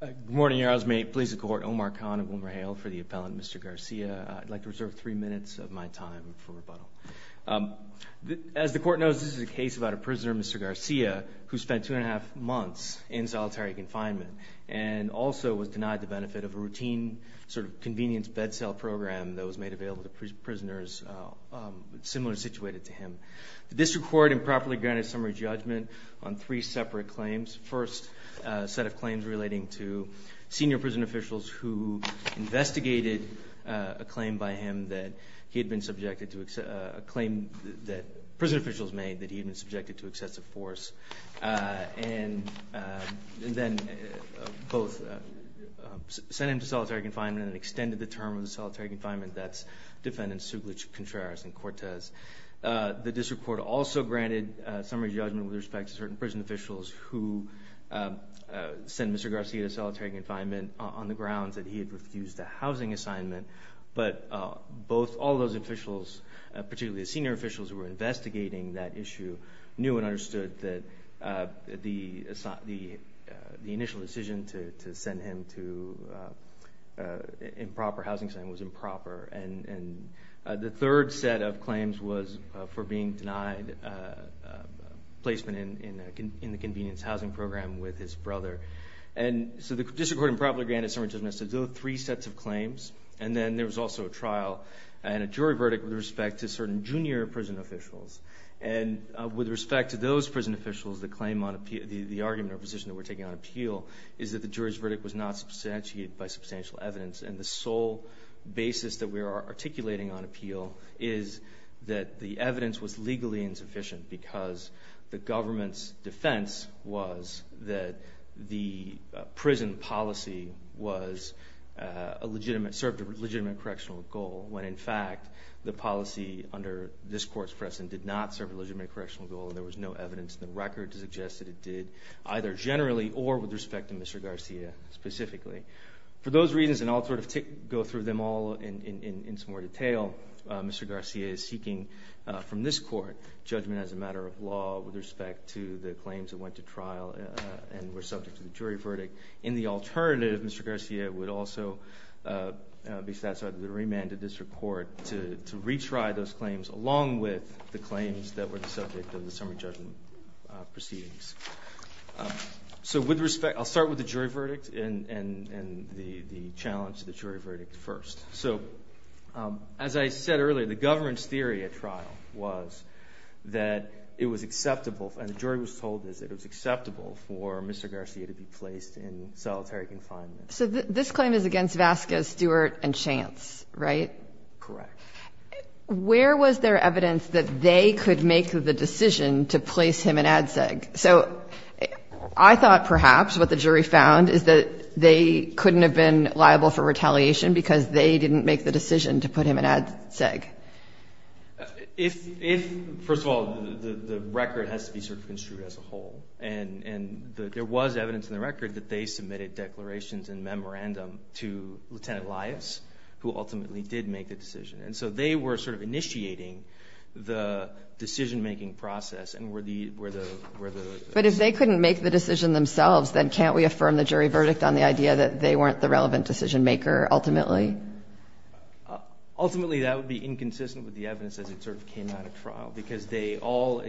Good morning, your honors. May it please the court, Omar Khan of WilmerHale for the appellant, Mr. Garcia. I'd like to reserve three minutes of my time for rebuttal. As the court knows, this is a case about a prisoner, Mr. Garcia, who spent two and a half months in solitary confinement and also was denied the benefit of a routine sort of convenience bed sale program that was made available to prisoners similar situated to him. The district court improperly granted summary judgment on three separate claims. First, a set of claims relating to senior prison officials who investigated a claim by him that he had been subjected to a claim that prison officials made that he had been subjected to excessive force and then both sent him to solitary confinement and extended the term of the solitary confinement. That's defendants Suglich, Contreras, and Cortez. The district court also granted summary judgment with respect to certain prison officials who sent Mr. Garcia to solitary confinement on the grounds that he had refused a housing assignment, but both all those officials, particularly the senior officials who were investigating that issue, knew and understood that the initial decision to send him to improper housing assignment was improper. The third set of claims was for being denied placement in the convenience housing program with his brother. The district court improperly granted summary judgment to those three sets of claims, and then there was also a trial and a jury verdict with respect to certain junior prison officials. With respect to those prison officials, the argument or position that we're taking on appeal is that the jury's verdict was not substantiated by substantial evidence, and the sole basis that we are articulating on appeal is that the evidence was legally insufficient because the government's defense was that the prison policy served a legitimate correctional goal, when in fact, the policy under this court's precedent did not serve a legitimate correctional goal, and there was no evidence in the record to suggest that it did, either generally or with respect to Mr. Garcia specifically. For those reasons, and I'll sort of go through them all in some more detail, Mr. Garcia is seeking from this court judgment as a matter of law with respect to the claims that went to trial and were subject to the jury verdict. In the alternative, Mr. Garcia would also be satisfied that the remand of the district court to retry those claims along with the claims that were the subject of the summary judgment proceedings. I'll start with the jury verdict and the challenge of the jury verdict first. As I said earlier, the government's theory at trial was that it was acceptable, and the jury was told that it was acceptable for Mr. Garcia to be placed in solitary confinement. So this claim is against Vasquez, Stewart, and Chance, right? Correct. Where was there evidence that they could make the decision to place him in ADSEG? So I thought perhaps what the jury found is that they couldn't have been liable for retaliation because they didn't make the decision to put him in ADSEG. If, first of all, the record has to be sort of construed as a whole, and there was evidence in the record that they submitted declarations and memorandum to Lieutenant Elias, who ultimately did make the decision. So they were sort of initiating the decision-making process. But if they couldn't make the decision themselves, then can't we affirm the jury verdict on the idea that they weren't the relevant decision-maker ultimately? Ultimately, that would be inconsistent with the evidence as it sort of came out of trial, because they all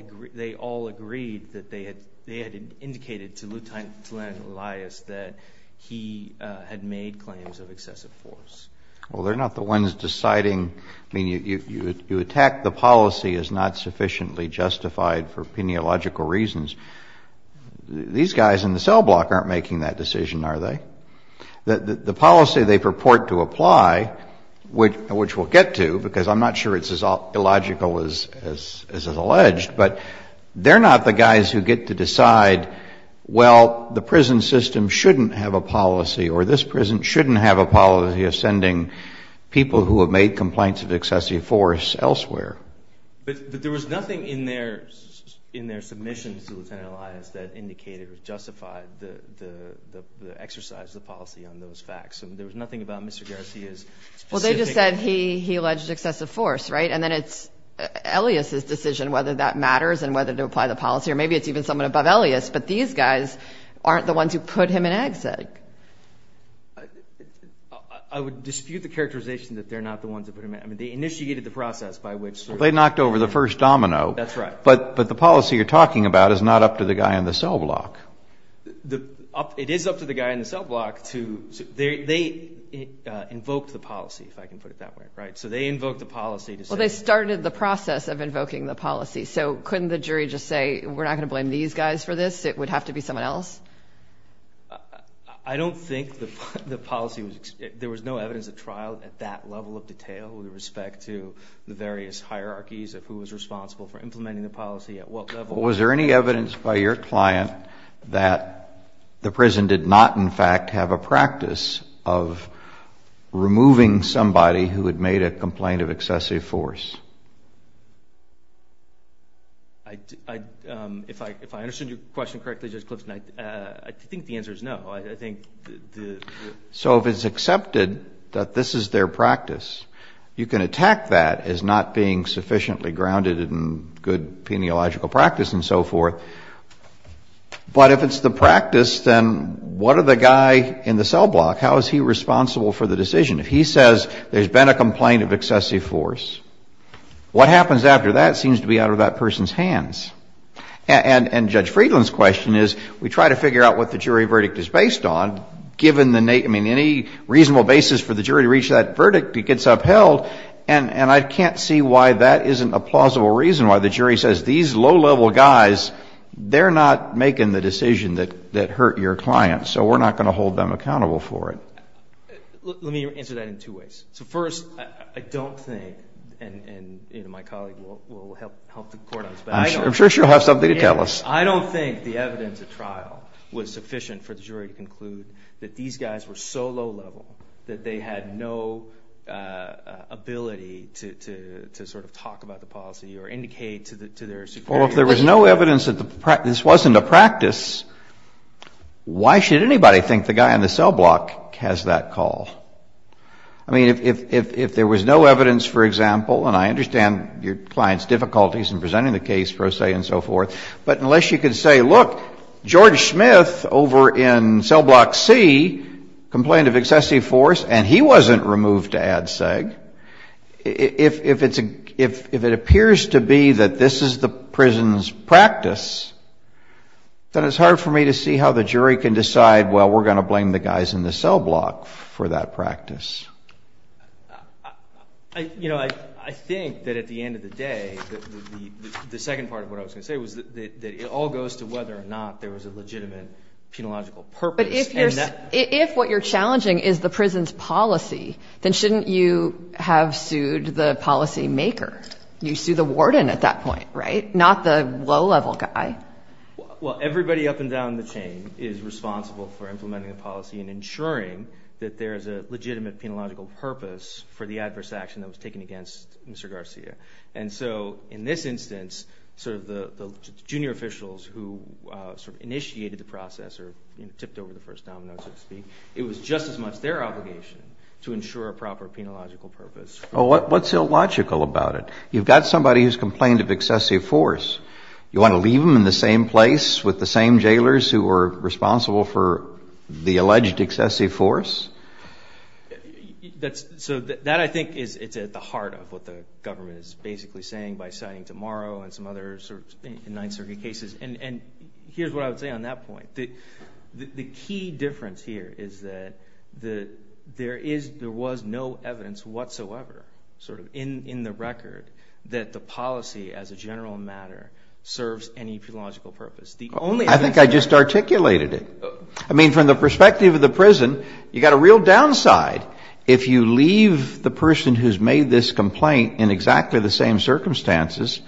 agreed that they had indicated to Lieutenant Elias that he had made claims of excessive force. Well, they're not the ones deciding, I mean, you attack the policy as not sufficiently justified for pineological reasons. These guys in the cell block aren't making that decision, are they? The policy they purport to apply, which we'll get to, because I'm not sure it's as illogical as alleged, but they're not the guys who get to decide, well, the prison system shouldn't have a policy, or this prison shouldn't have a policy of sending people who have made complaints of excessive force elsewhere. But there was nothing in their submission to Lieutenant Elias, nothing about Mr. Garcia's specific... Well, they just said he alleged excessive force, right? And then it's Elias's decision whether that matters and whether to apply the policy, or maybe it's even someone above Elias, but these guys aren't the ones who put him in EXEC. I would dispute the characterization that they're not the ones who put him in. I mean, they initiated the process by which... Well, they knocked over the first domino. That's right. But the policy you're talking about is not up to the guy in the cell block. It is up to the guy in the cell block to... They invoked the policy, if I can put it that way, right? So they invoked the policy to say... Well, they started the process of invoking the policy, so couldn't the jury just say, we're not going to blame these guys for this, it would have to be someone else? I don't think the policy was... There was no evidence of trial at that level of detail with respect to the various hierarchies of who was responsible for implementing the policy at what level. Was there any evidence by your client that the prison did not, in fact, have a practice of removing somebody who had made a complaint of excessive force? If I understood your question correctly, Judge Clifton, I think the answer is no. So if it's accepted that this is their practice, you can attack that as not being sufficiently grounded in good peniological practice and so forth. But if it's the practice, then what are the guy in the cell block, how is he responsible for the decision? If he says there's been a complaint of excessive force, what happens after that seems to be out of that person's hands. And Judge Friedland's question is, we try to figure out what the jury verdict is based on, given the... I mean, any reasonable basis for the jury to reach that verdict gets upheld, and I can't see why that isn't a plausible reason why the jury says, these low-level guys, they're not making the decision that hurt your client, so we're not going to hold them accountable for it. Let me answer that in two ways. So first, I don't think, and my colleague will help the court on this, but I don't think... I'm sure she'll have something to tell us. I don't think the evidence at trial was sufficient for the jury to conclude that these guys were so low-level that they had no ability to sort of talk about the policy or indicate to their superior... Well, if there was no evidence that this wasn't a practice, why should anybody think the guy on the cell block has that call? I mean, if there was no evidence, for example, and I understand your client's difficulties in presenting the case, per se, and so forth, but unless you could say, look, George Smith over in cell block C complained of excessive force, and he wasn't removed to add seg, if it appears to be that this is the prison's practice, then it's hard for me to see how the jury can decide, well, we're going to blame the guys in the cell block for that practice. You know, I think that at the end of the day, the second part of what I was going to say was that it all goes to whether or not there was a legitimate penological purpose. But if what you're challenging is the prison's policy, then shouldn't you have sued the policy maker? You sued the warden at that point, right? Not the low-level guy. Well, everybody up and down the chain is responsible for implementing the policy and ensuring that there is a legitimate penological purpose for the adverse action that was taken against Mr. Garcia. And so in this instance, sort of the junior officials who sort of initiated the process or tipped over the first domino, so to speak, it was just as much their obligation to ensure a proper penological purpose. What's illogical about it? You've got somebody who's complained of excessive force. You want to leave them in the same place with the same jailers who were responsible for the alleged excessive force? So that, I think, is at the heart of what the government is basically saying by citing tomorrow and some other sort of in 9th Circuit cases. And here's what I would say on that point. The key difference here is that there was no evidence whatsoever sort of in the record that the policy as a general matter serves any penological purpose. I think I just articulated it. I mean, from the perspective of the prison, you've got a real downside. If you leave the person who's made this complaint in exactly the same circumstances,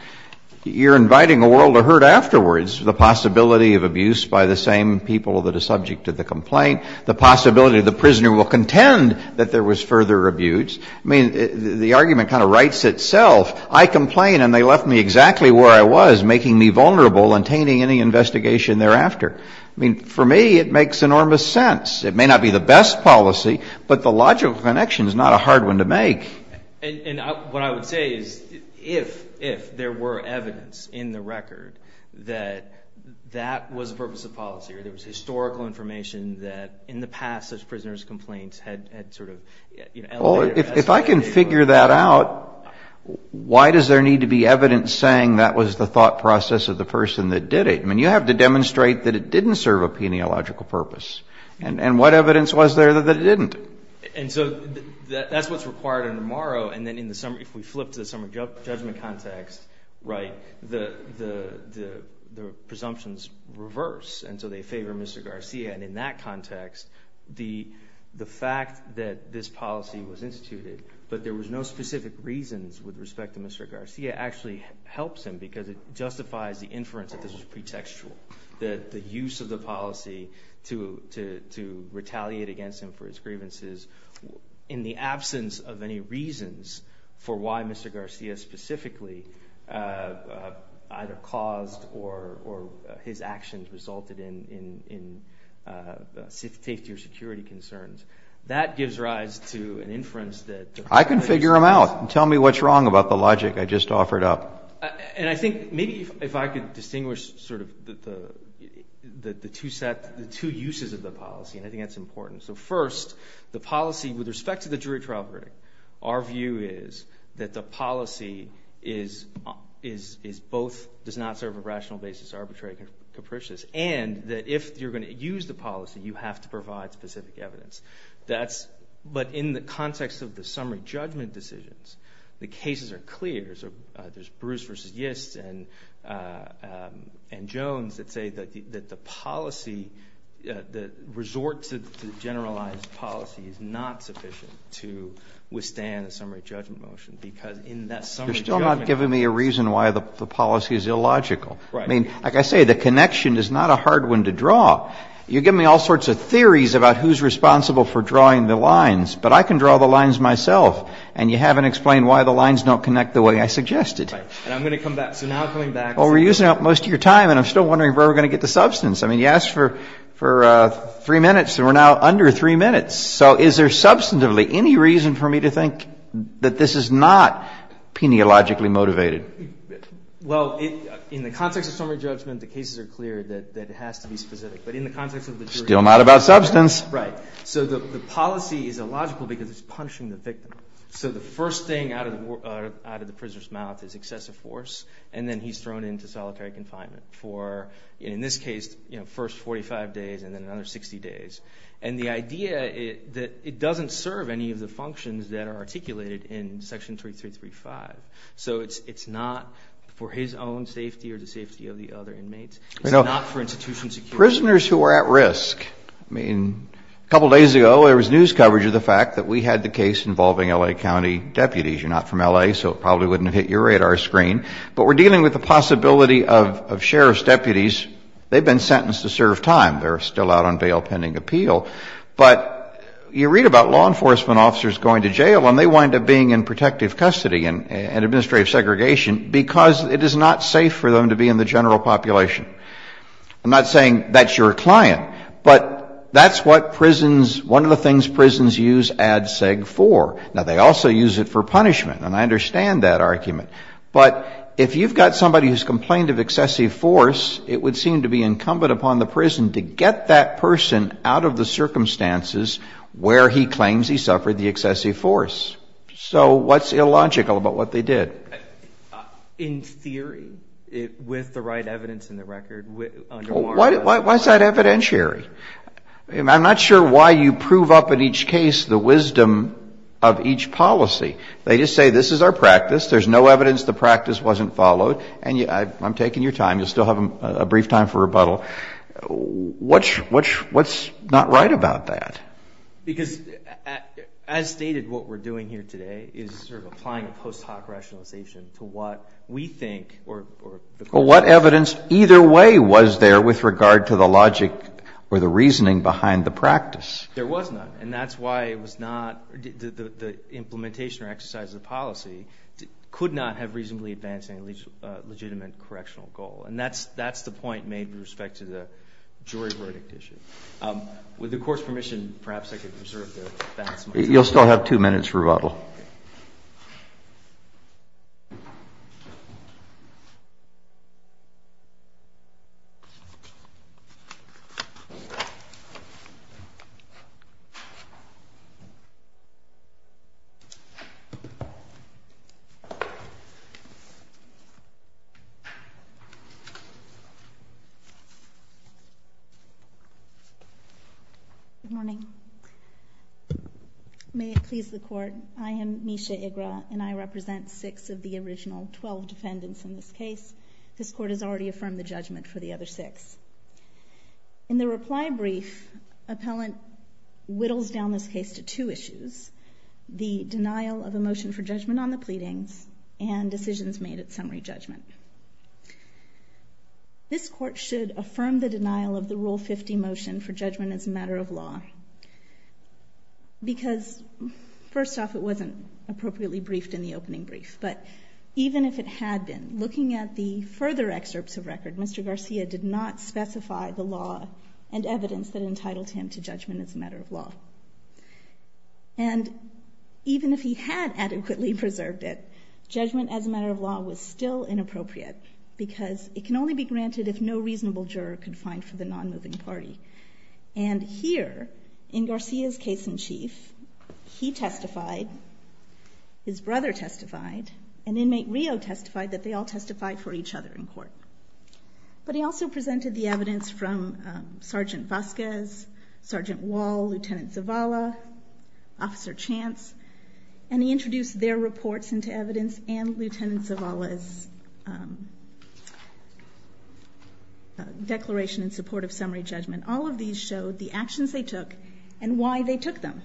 you're inviting a world of hurt afterwards, the possibility of abuse by the same people that are subject to the complaint, the possibility the prisoner will contend that there was further abuse. I mean, the argument kind of writes itself. I complain and they left me exactly where I was, making me vulnerable and tainting any investigation thereafter. I mean, for me, it makes enormous sense. It may not be the best policy, but the logical connection is not a hard one to make. And what I would say is if there were evidence in the record that that was the purpose of policy or there was historical information that in the past such prisoners' complaints had sort of elevated or escalated. If I can figure that out, why does there need to be evidence saying that was the thought process of the person that did it? I mean, you have to demonstrate that it didn't serve a peniological purpose. And what evidence was there that it didn't? And so that's what's required in Amaro. And then if we flip to the summary judgment context, the presumptions reverse. And so they favor Mr. Garcia. And in that context, the fact that this policy was instituted, but there was no specific reasons with respect to Mr. Garcia, actually helps him because it justifies the inference that this was pretextual, that the use of the policy to retaliate against him for his grievances in the absence of any reasons for why Mr. Garcia specifically either caused or his actions resulted in safety or that gives rise to an inference that... I can figure them out. Tell me what's wrong about the logic I just offered up. And I think maybe if I could distinguish sort of the two uses of the policy, and I think that's important. So first, the policy with respect to the jury trial verdict, our view is that the policy is both does not serve a rational basis, arbitrary, capricious, and that if you're going to use the policy, you have to provide specific evidence. But in the context of the summary judgment decisions, the cases are clear. So there's Bruce versus Yist and Jones that say that the policy, the resort to generalized policy is not sufficient to withstand a summary judgment motion because in that summary judgment... You're still not giving me a reason why the policy is illogical. I mean, like I say, the case is hard one to draw. You give me all sorts of theories about who's responsible for drawing the lines, but I can draw the lines myself. And you haven't explained why the lines don't connect the way I suggested. Right. And I'm going to come back. So now I'm coming back to... Well, we're using up most of your time, and I'm still wondering where we're going to get the substance. I mean, you asked for three minutes, and we're now under three minutes. So is there substantively any reason for me to think that this is not peneologically motivated? Well, in the context of summary judgment, the cases are clear that it has to be specific. But in the context of the jury... Still not about substance. Right. So the policy is illogical because it's punishing the victim. So the first thing out of the prisoner's mouth is excessive force, and then he's thrown into solitary confinement for, in this case, first 45 days and then another 60 days. And the idea that it doesn't serve any of the functions that are articulated in Section 3335. So it's not for his own safety or the safety of the other inmates. It's not for institution security. Prisoners who are at risk. I mean, a couple days ago, there was news coverage of the fact that we had the case involving L.A. County deputies. You're not from L.A., so it probably wouldn't have hit your radar screen. But we're dealing with the possibility of sheriff's deputies. They've been sentenced to serve time. They're still out on bail pending appeal. But you read about law enforcement officers going to jail, and they wind up being in protective custody and administrative segregation because it is not safe for them to be in the general population. I'm not saying that's your client, but that's what prisons, one of the things prisons use ADSEG for. Now, they also use it for punishment, and I understand that argument. But if you've got somebody who's complained of excessive force, it would seem to be incumbent upon the prison to get that person out of the circumstances where he claims he suffered the excessive force. So what's illogical about what they did? In theory, with the right evidence in the record, under warrants. Why is that evidentiary? I'm not sure why you prove up in each case the wisdom of each policy. They just say, this is our practice. There's no evidence the practice wasn't followed. I'm taking your time. You'll still have a brief time for rebuttal. What's not right about that? Because as stated, what we're doing here today is sort of applying a post hoc rationalization to what we think or what evidence either way was there with regard to the logic or the reasoning behind the practice. There was none, and that's why it was not the implementation or exercise of the policy could not have reasonably advanced any legitimate correctional goal. And that's the point made with respect to the jury verdict issue. With the Court's permission, perhaps I could reserve the balance of my time. You'll still have two minutes for rebuttal. Good morning. May it please the Court, I am Misha Igra, and I represent six of the original twelve defendants in this case. This Court has already affirmed the judgment for the other six. In the reply brief, appellant whittles down this case to two issues. The denial of a motion for judgment on the pleadings and decisions made at summary judgment. This Court should affirm the denial of the Rule 50 motion for judgment as a matter of law because, first off, it wasn't appropriately briefed in the opening brief, but even if it had been, looking at the further excerpts of record, Mr. Garcia did not specify the law and evidence that entitled him to judgment as a matter of law. And even if he had adequately preserved it, judgment as a matter of law was still inappropriate because it can only be granted if no reasonable juror can find for the non-moving party. And here, in Garcia's case in chief, he testified, his brother testified, and inmate Rio testified that they all testified for each other in court. But he also presented the evidence from Sgt. Vasquez, Sgt. Wall, Lt. Zavala, Officer Chance, and he introduced their reports into evidence and Lt. Zavala's declaration in support of summary judgment. All of these showed the actions they took and why they took them.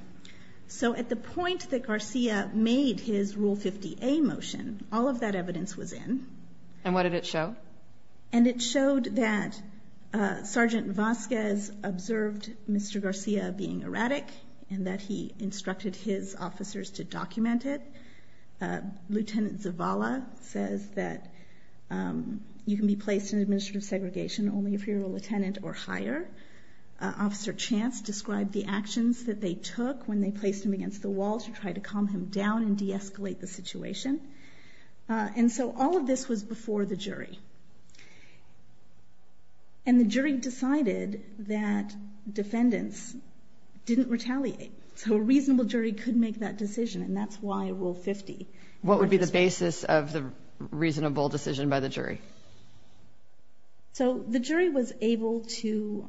So at the point that Garcia made his Rule 50A motion, all of that evidence was in. And what did it show? And it showed that Sgt. Vasquez observed Mr. Garcia being erratic, and that he instructed his officers to document it. Lt. Zavala says that you can be placed in administrative segregation only if you're a lieutenant or higher. Officer Chance described the actions that they took when they placed him against the wall to try to calm him down and de-escalate the situation. And so all of this was before the jury. And the jury decided that defendants didn't retaliate. So a reasonable jury could make that decision, and that's why Rule 50. What would be the basis of the reasonable decision by the jury? So the jury was able to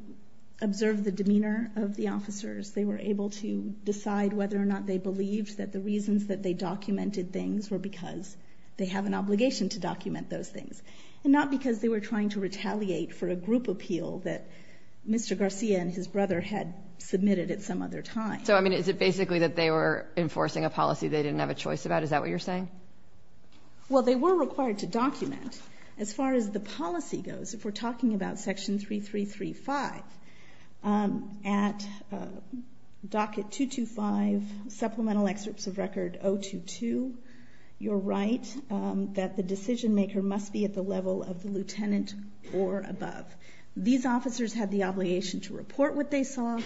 observe the demeanor of the officers. They were able to decide whether or not they believed that the reasons that they documented things were because they have an obligation to document those things, and not because they were trying to retaliate for a group appeal that Mr. Garcia and his brother had submitted at some other time. So I mean, is it basically that they were enforcing a policy they didn't have a choice about? Is that what you're saying? Well, they were required to document. As far as the policy goes, if we're right, that the decision maker must be at the level of the lieutenant or above. These officers had the obligation to report what they saw,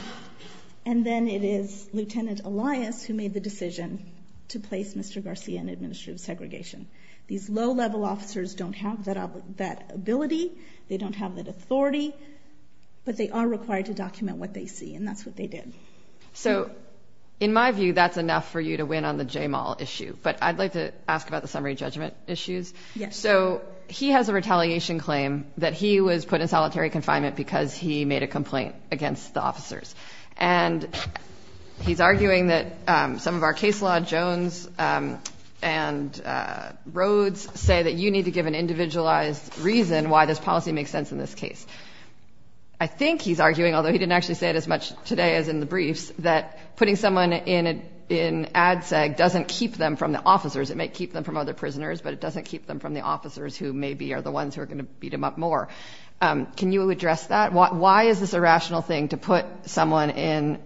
and then it is Lieutenant Elias who made the decision to place Mr. Garcia in administrative segregation. These low-level officers don't have that ability, they don't have that authority, but they are required to document what they see, and that's what they did. So in my view, that's enough for you to win on the J-Mall issue. But I'd like to ask about the summary judgment issues. So he has a retaliation claim that he was put in solitary confinement because he made a complaint against the officers. And he's arguing that some of our case law, Jones and Rhodes, say that you need to give an individualized reason why this policy makes sense in this case. I think he's arguing, although he didn't actually say it as much today as in the briefs, that putting someone in ADSEG doesn't keep them from the officers. It might keep them from other prisoners, but it doesn't keep them from the officers who maybe are the ones who are going to beat him up more. Can you address that? Why is this a rational thing to put someone in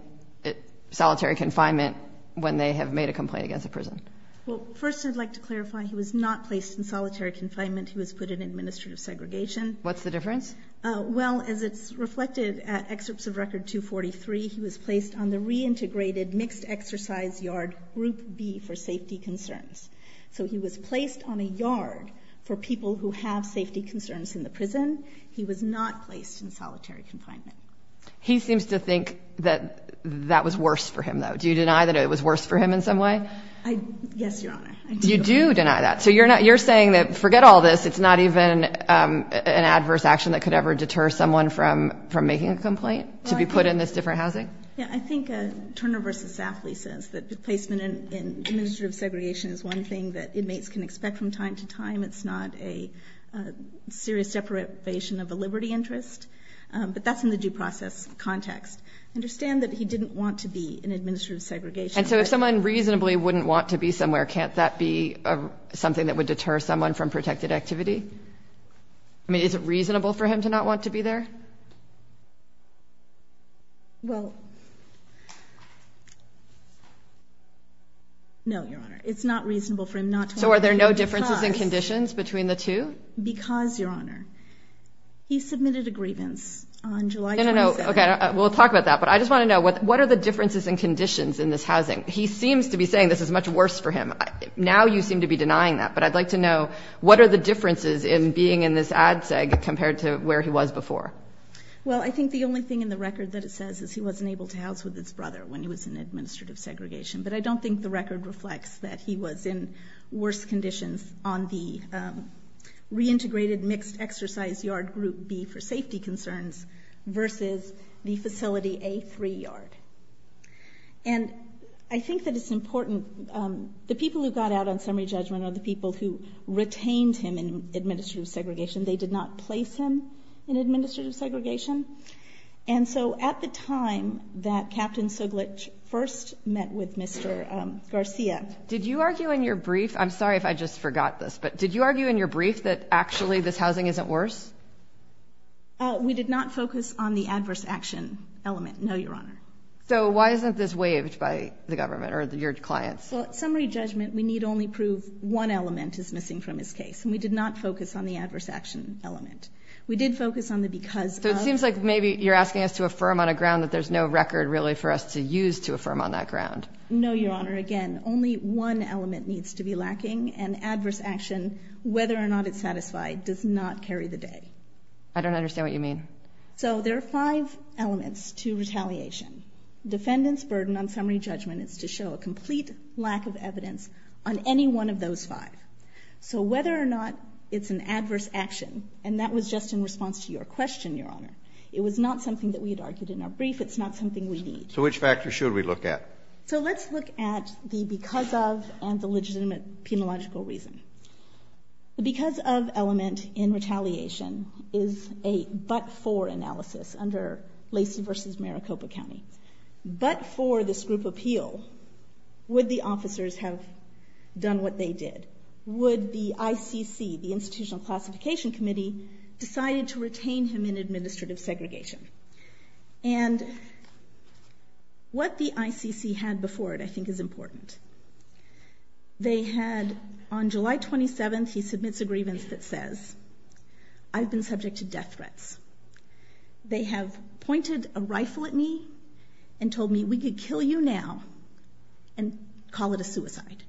solitary confinement when they have made a complaint against the prison? Well, first I'd like to clarify, he was not placed in solitary confinement. He was put in administrative segregation. What's the difference? Well, as it's reflected at excerpts of Record 243, he was placed on the reintegrated mixed exercise yard, Group B, for safety concerns. So he was placed on a yard for people who have safety concerns in the prison. He was not placed in solitary confinement. He seems to think that that was worse for him, though. Do you deny that it was worse for him in some way? Yes, Your Honor. You do deny that. So you're saying that, forget all this, it's not even an adverse action that could ever deter someone from making a complaint to be put in this different housing? Yeah, I think Turner v. Safley says that the placement in administrative segregation is one thing that inmates can expect from time to time. It's not a serious deprivation of a liberty interest, but that's in the due process context. I understand that he didn't want to be in administrative segregation. And so if someone reasonably wouldn't want to be somewhere, can't that be something that would deter someone from making a complaint? Well, no, Your Honor. It's not reasonable for him not to want to be there. So are there no differences in conditions between the two? Because, Your Honor, he submitted a grievance on July 27th. No, no, no. Okay, we'll talk about that. But I just want to know, what are the differences in conditions in this housing? He seems to be saying this is much worse for him. Now you seem to be denying that. But I'd like to know, what are the differences in being in this ad seg compared to where he was before? Well, I think the only thing in the record that it says is he wasn't able to house with his brother when he was in administrative segregation. But I don't think the record reflects that he was in worse conditions on the reintegrated mixed exercise yard group B for safety concerns versus the facility A3 yard. And I think that it's important, the people who got out on summary judgment are the people who retained him in administrative segregation. They did not place him in administrative segregation. And so at the time that Captain Suglich first met with Mr. Garcia. Did you argue in your brief, I'm sorry if I just forgot this, but did you argue in your brief that actually this housing isn't worse? We did not focus on the adverse action element. No, Your Honor. So why isn't this waived by the government or your clients? Well, at summary judgment, we need only prove one element is adverse action element. We did focus on the because. So it seems like maybe you're asking us to affirm on a ground that there's no record really for us to use to affirm on that ground. No, Your Honor. Again, only one element needs to be lacking and adverse action, whether or not it's satisfied, does not carry the day. I don't understand what you mean. So there are five elements to retaliation. Defendant's burden on summary judgment is to show a complete lack of adverse action. And that was just in response to your question, Your Honor. It was not something that we had argued in our brief. It's not something we need. So which factors should we look at? So let's look at the because of and the legitimate penological reason. The because of element in retaliation is a but for analysis under Lacey v. Maricopa County. But for this group appeal, would the officers have done what they did? Would the ICC, the Institutional Classification Committee, decided to retain him in administrative segregation? And what the ICC had before it, I think, is important. They had on July 27th, he submits a grievance that says, I've been subject to death threats. They have pointed a rifle at me and told me, we could kill you now and call it a suicide.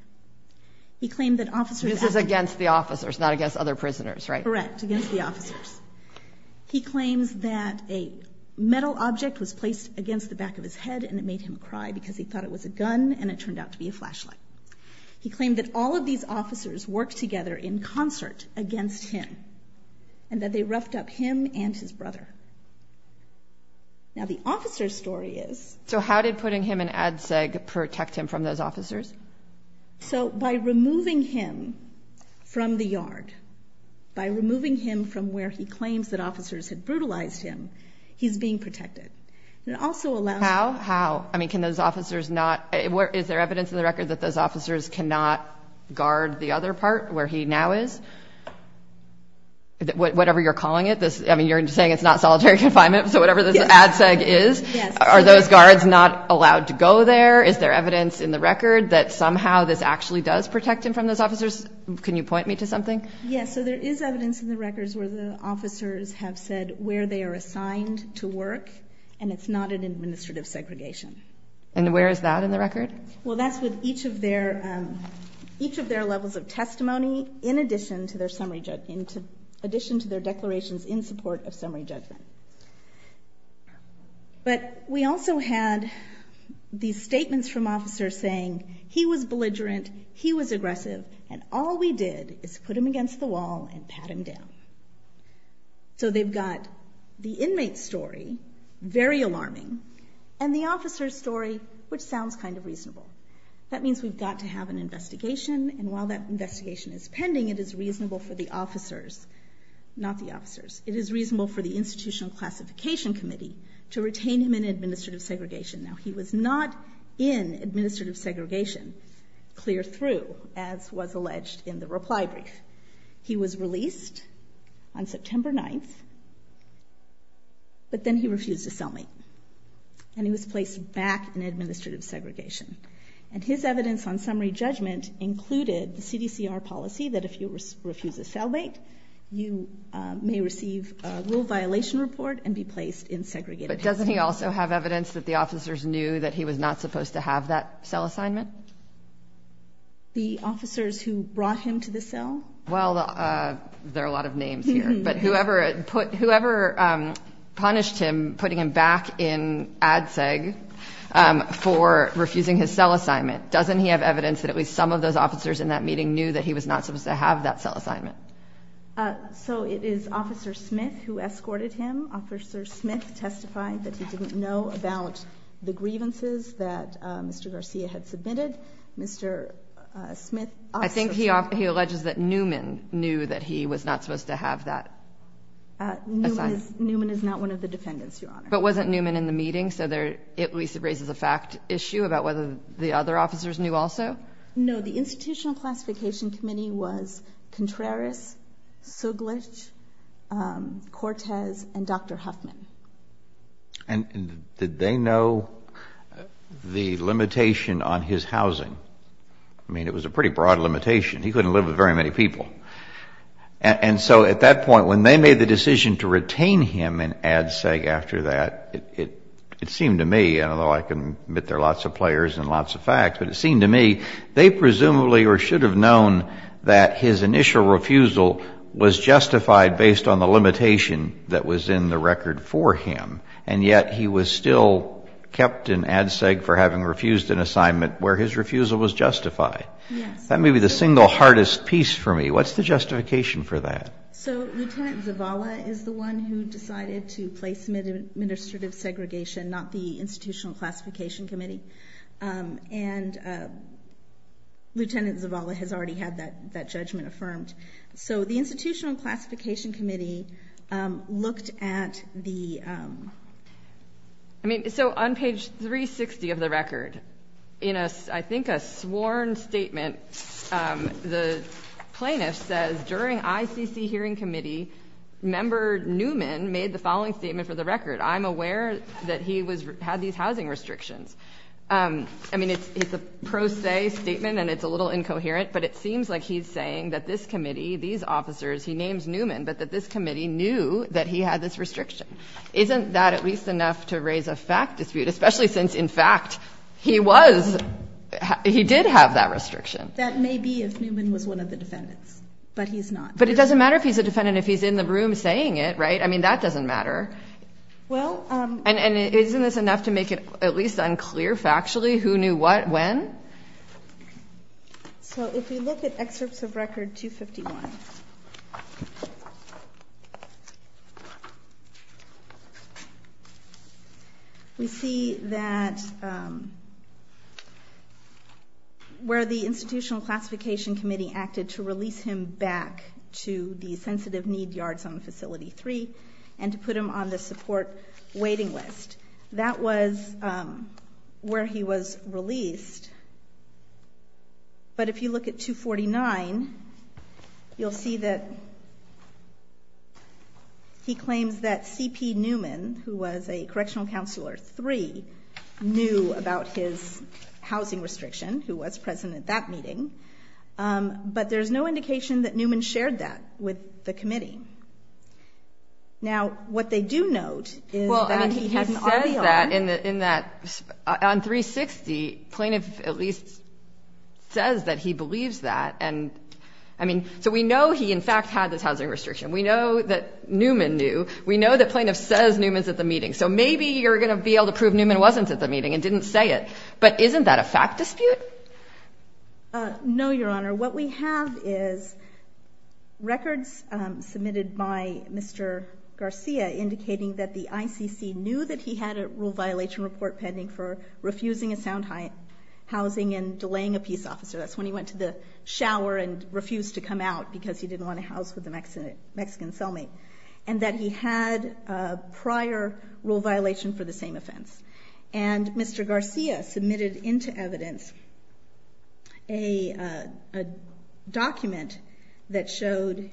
This is against the officers, not against other prisoners, right? Correct, against the officers. He claims that a metal object was placed against the back of his head and it made him cry because he thought it was a gun and it turned out to be a flashlight. He claimed that all of these officers worked together in concert against him and that they roughed up him and his brother. Now the officer's story is... So how did putting him in ADSEG protect him from those officers? So by removing him from the yard, by removing him from where he claims that officers had brutalized him, he's being protected. It also allows... How? How? I mean, can those officers not... Is there evidence in the record that those whatever you're calling it, I mean, you're saying it's not solitary confinement, so whatever this ADSEG is, are those guards not allowed to go there? Is there evidence in the record that somehow this actually does protect him from those officers? Can you point me to something? Yeah, so there is evidence in the records where the officers have said where they are assigned to work and it's not an administrative segregation. And where is that in the record? Well, that's with each of their levels of testimony, in addition to their summary judgment, in addition to their declarations in support of summary judgment. But we also had these statements from officers saying he was belligerent, he was aggressive, and all we did is put him against the wall and pat him down. So they've got the inmate's story, very alarming, and the officer's story, which sounds kind of reasonable. That means we've got to have an investigation, and while that investigation is pending, it is reasonable for the officers, not the officers, it is reasonable for the Institutional Classification Committee to retain him in administrative segregation. Now, he was not in administrative segregation clear through, as was alleged in the reply brief. He was released on September 9th, but then he refused to sell me, and he was placed back in policy that if you refuse a cellmate, you may receive a rule violation report and be placed in segregated. But doesn't he also have evidence that the officers knew that he was not supposed to have that cell assignment? The officers who brought him to the cell? Well, there are a lot of names here, but whoever punished him, putting him back in ADSEG for refusing his cell assignment, doesn't he have evidence that at least some of those knew that he was not supposed to have that cell assignment? So it is Officer Smith who escorted him. Officer Smith testified that he didn't know about the grievances that Mr. Garcia had submitted. Mr. Smith... I think he alleges that Newman knew that he was not supposed to have that assignment. Newman is not one of the defendants, Your Honor. But wasn't Newman in the meeting, so at least it raises a fact issue about whether the other officers knew also? No. The Institutional Classification Committee was Contreras, Suglich, Cortez, and Dr. Huffman. And did they know the limitation on his housing? I mean, it was a pretty broad limitation. He couldn't live with very many people. And so at that point, when they made the decision to retain him in ADSEG after that, it seemed to me, and although I can admit there are lots of players and lots of facts, but it seemed to me they presumably or should have known that his initial refusal was justified based on the limitation that was in the record for him. And yet he was still kept in ADSEG for having refused an assignment where his refusal was justified. Yes. That may be the single hardest piece for me. What's the justification for that? So Lieutenant Zavala is the one who decided to place him in administrative segregation, not the Institutional Classification Committee. And Lieutenant Zavala has already had that judgment affirmed. So the Institutional Classification Committee looked at the... I mean, so on page 360 of the record, in a, I think, a sworn statement, the plaintiff says, during ICC hearing committee, Member Newman made the following statement for the record. I'm aware that he had these housing restrictions. I mean, it's a pro se statement, and it's a little incoherent, but it seems like he's saying that this committee, these officers, he names Newman, but that this committee knew that he had this restriction. Isn't that at least enough to raise a fact dispute, especially since, in fact, he was, he did have that restriction? That may be if Newman was one of the defendants, but he's not. But it doesn't matter if he's a defendant if he's in the room saying it, right? I mean, that doesn't matter. Well, and isn't this enough to make it at least unclear factually who knew what, when? So if you look at excerpts of record 251, we see that where the Institutional Classification Committee acted to release him back to the support waiting list, that was where he was released. But if you look at 249, you'll see that he claims that C.P. Newman, who was a Correctional Counselor III, knew about his housing restriction, who was present at that meeting. But there's no indication that Newman shared that with the committee. Now, what they do note is that he had an audio. Well, I mean, he says that in that, on 360, Plaintiff at least says that he believes that. And, I mean, so we know he, in fact, had this housing restriction. We know that Newman knew. We know that Plaintiff says Newman's at the meeting. So maybe you're going to be able to prove Newman wasn't at the meeting and didn't say it. But isn't that a fact dispute? No, Your Honor. What we have is records submitted by Mr. Garcia indicating that the ICC knew that he had a rule violation report pending for refusing a sound housing and delaying a peace officer. That's when he went to the shower and refused to come out because he didn't want to house with a Mexican cellmate. And that he had a prior rule violation for the same offense. And Mr. Garcia submitted into evidence a document that showed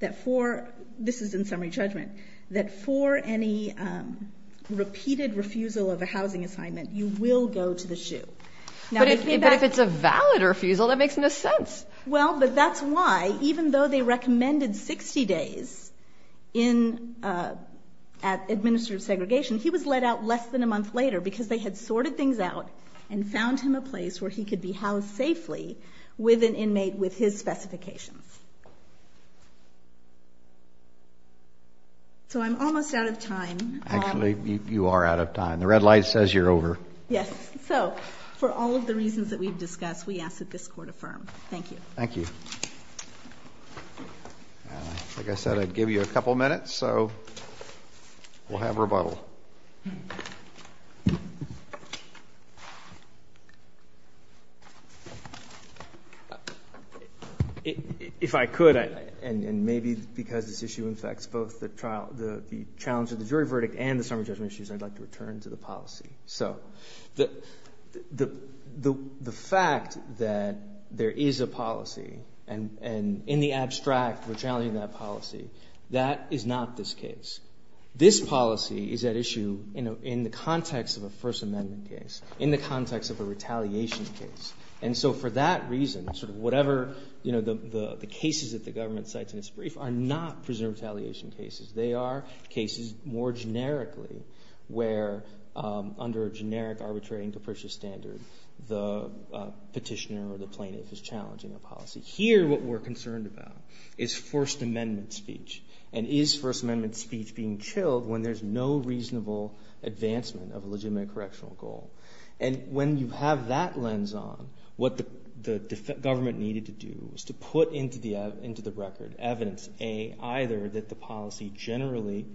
that for, this is in summary judgment, that for any repeated refusal of a housing assignment, you will go to the shoe. But if it's a valid refusal, that makes no sense. Well, but that's why, even though they recommended 60 days in administrative segregation, he was let out less than a month later because they had sorted things out and found him a place where he could be housed safely with an inmate with his specifications. So I'm almost out of time. Actually, you are out of time. The red light says you're over. Yes. So for all of the reasons that we've discussed, we ask that this Court affirm. Thank you. Thank you. Like I said, I'd give you a couple minutes. So we'll have rebuttal. If I could, and maybe because this issue infects both the challenge of the jury verdict and the summary judgment issues, I'd like to return to the policy. So the fact that there is a policy, and in the abstract we're challenging that policy, that is not this case. This policy is at issue in the context of a First Amendment case, in the context of a retaliation case. And so for that reason, whatever the cases that the government cites in its brief are not prisoner retaliation cases. They are cases more generically, where under a generic arbitrary and capricious standard, the petitioner or the plaintiff is challenging a policy. Here, what we're concerned about is First Amendment speech. And is First Amendment speech being chilled when there's no reasonable advancement of a legitimate correctional goal? And when you have that lens on, what the government needed to do was to put into the record evidence, A, either that the policy generally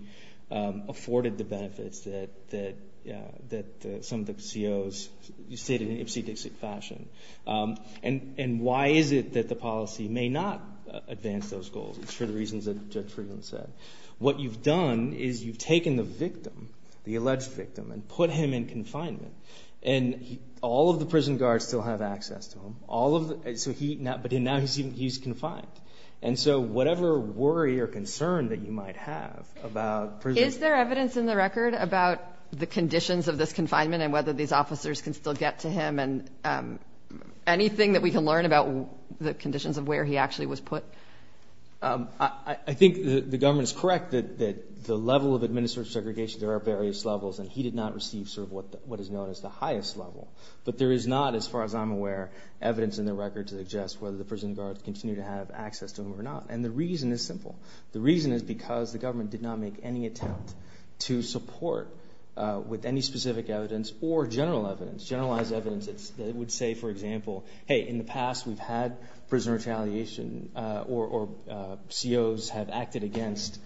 afforded the benefits that some of the COs stated in ipsy-dixy fashion. And why is it that the policy may not advance those goals? It's for the reasons that Judge Friedland said. What you've done is you've taken the victim, the alleged victim, and put him in confinement. And all of the prison guards still have access to him. But now he's confined. And so whatever worry or concern that you might have about prison— Is there evidence in the record about the conditions of this confinement and whether these officers can still get to him? And anything that we can learn about the conditions of where he actually was put? I think the government is correct that the level of administrative segregation, there are various levels. And he did not receive sort of what is known as the highest level. But there is not, as far as I'm aware, evidence in the record to suggest whether prison guards continue to have access to him or not. And the reason is simple. The reason is because the government did not make any attempt to support with any specific evidence or general evidence, generalized evidence that would say, for example, hey, in the past we've had prisoner retaliation or COs have acted against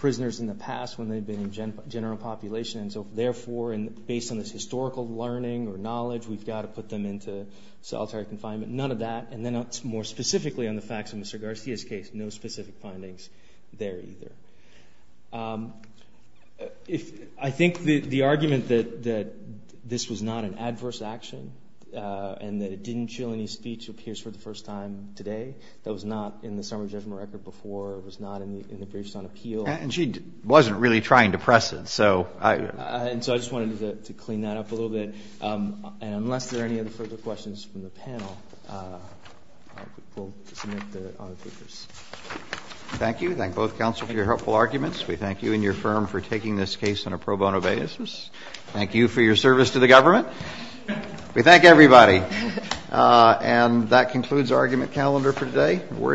prisoners in the past when they've been in general population. And so therefore, based on this historical learning or knowledge, we've got to put them into solitary confinement. None of that. And then more specifically on the facts of Mr. Garcia's case, no specific findings there either. I think the argument that this was not an adverse action and that it didn't show any speech appears for the first time today. That was not in the summary judgment record before. It was not in the briefs on appeal. And she wasn't really trying to press it. So I— And so I just wanted to clean that up a little bit. And unless there are any other further questions from the panel, I will submit the other papers. Thank you. Thank both counsel for your helpful arguments. We thank you and your firm for taking this case on a pro bono basis. Thank you for your service to the government. We thank everybody. And that concludes argument calendar for today. We're adjourned.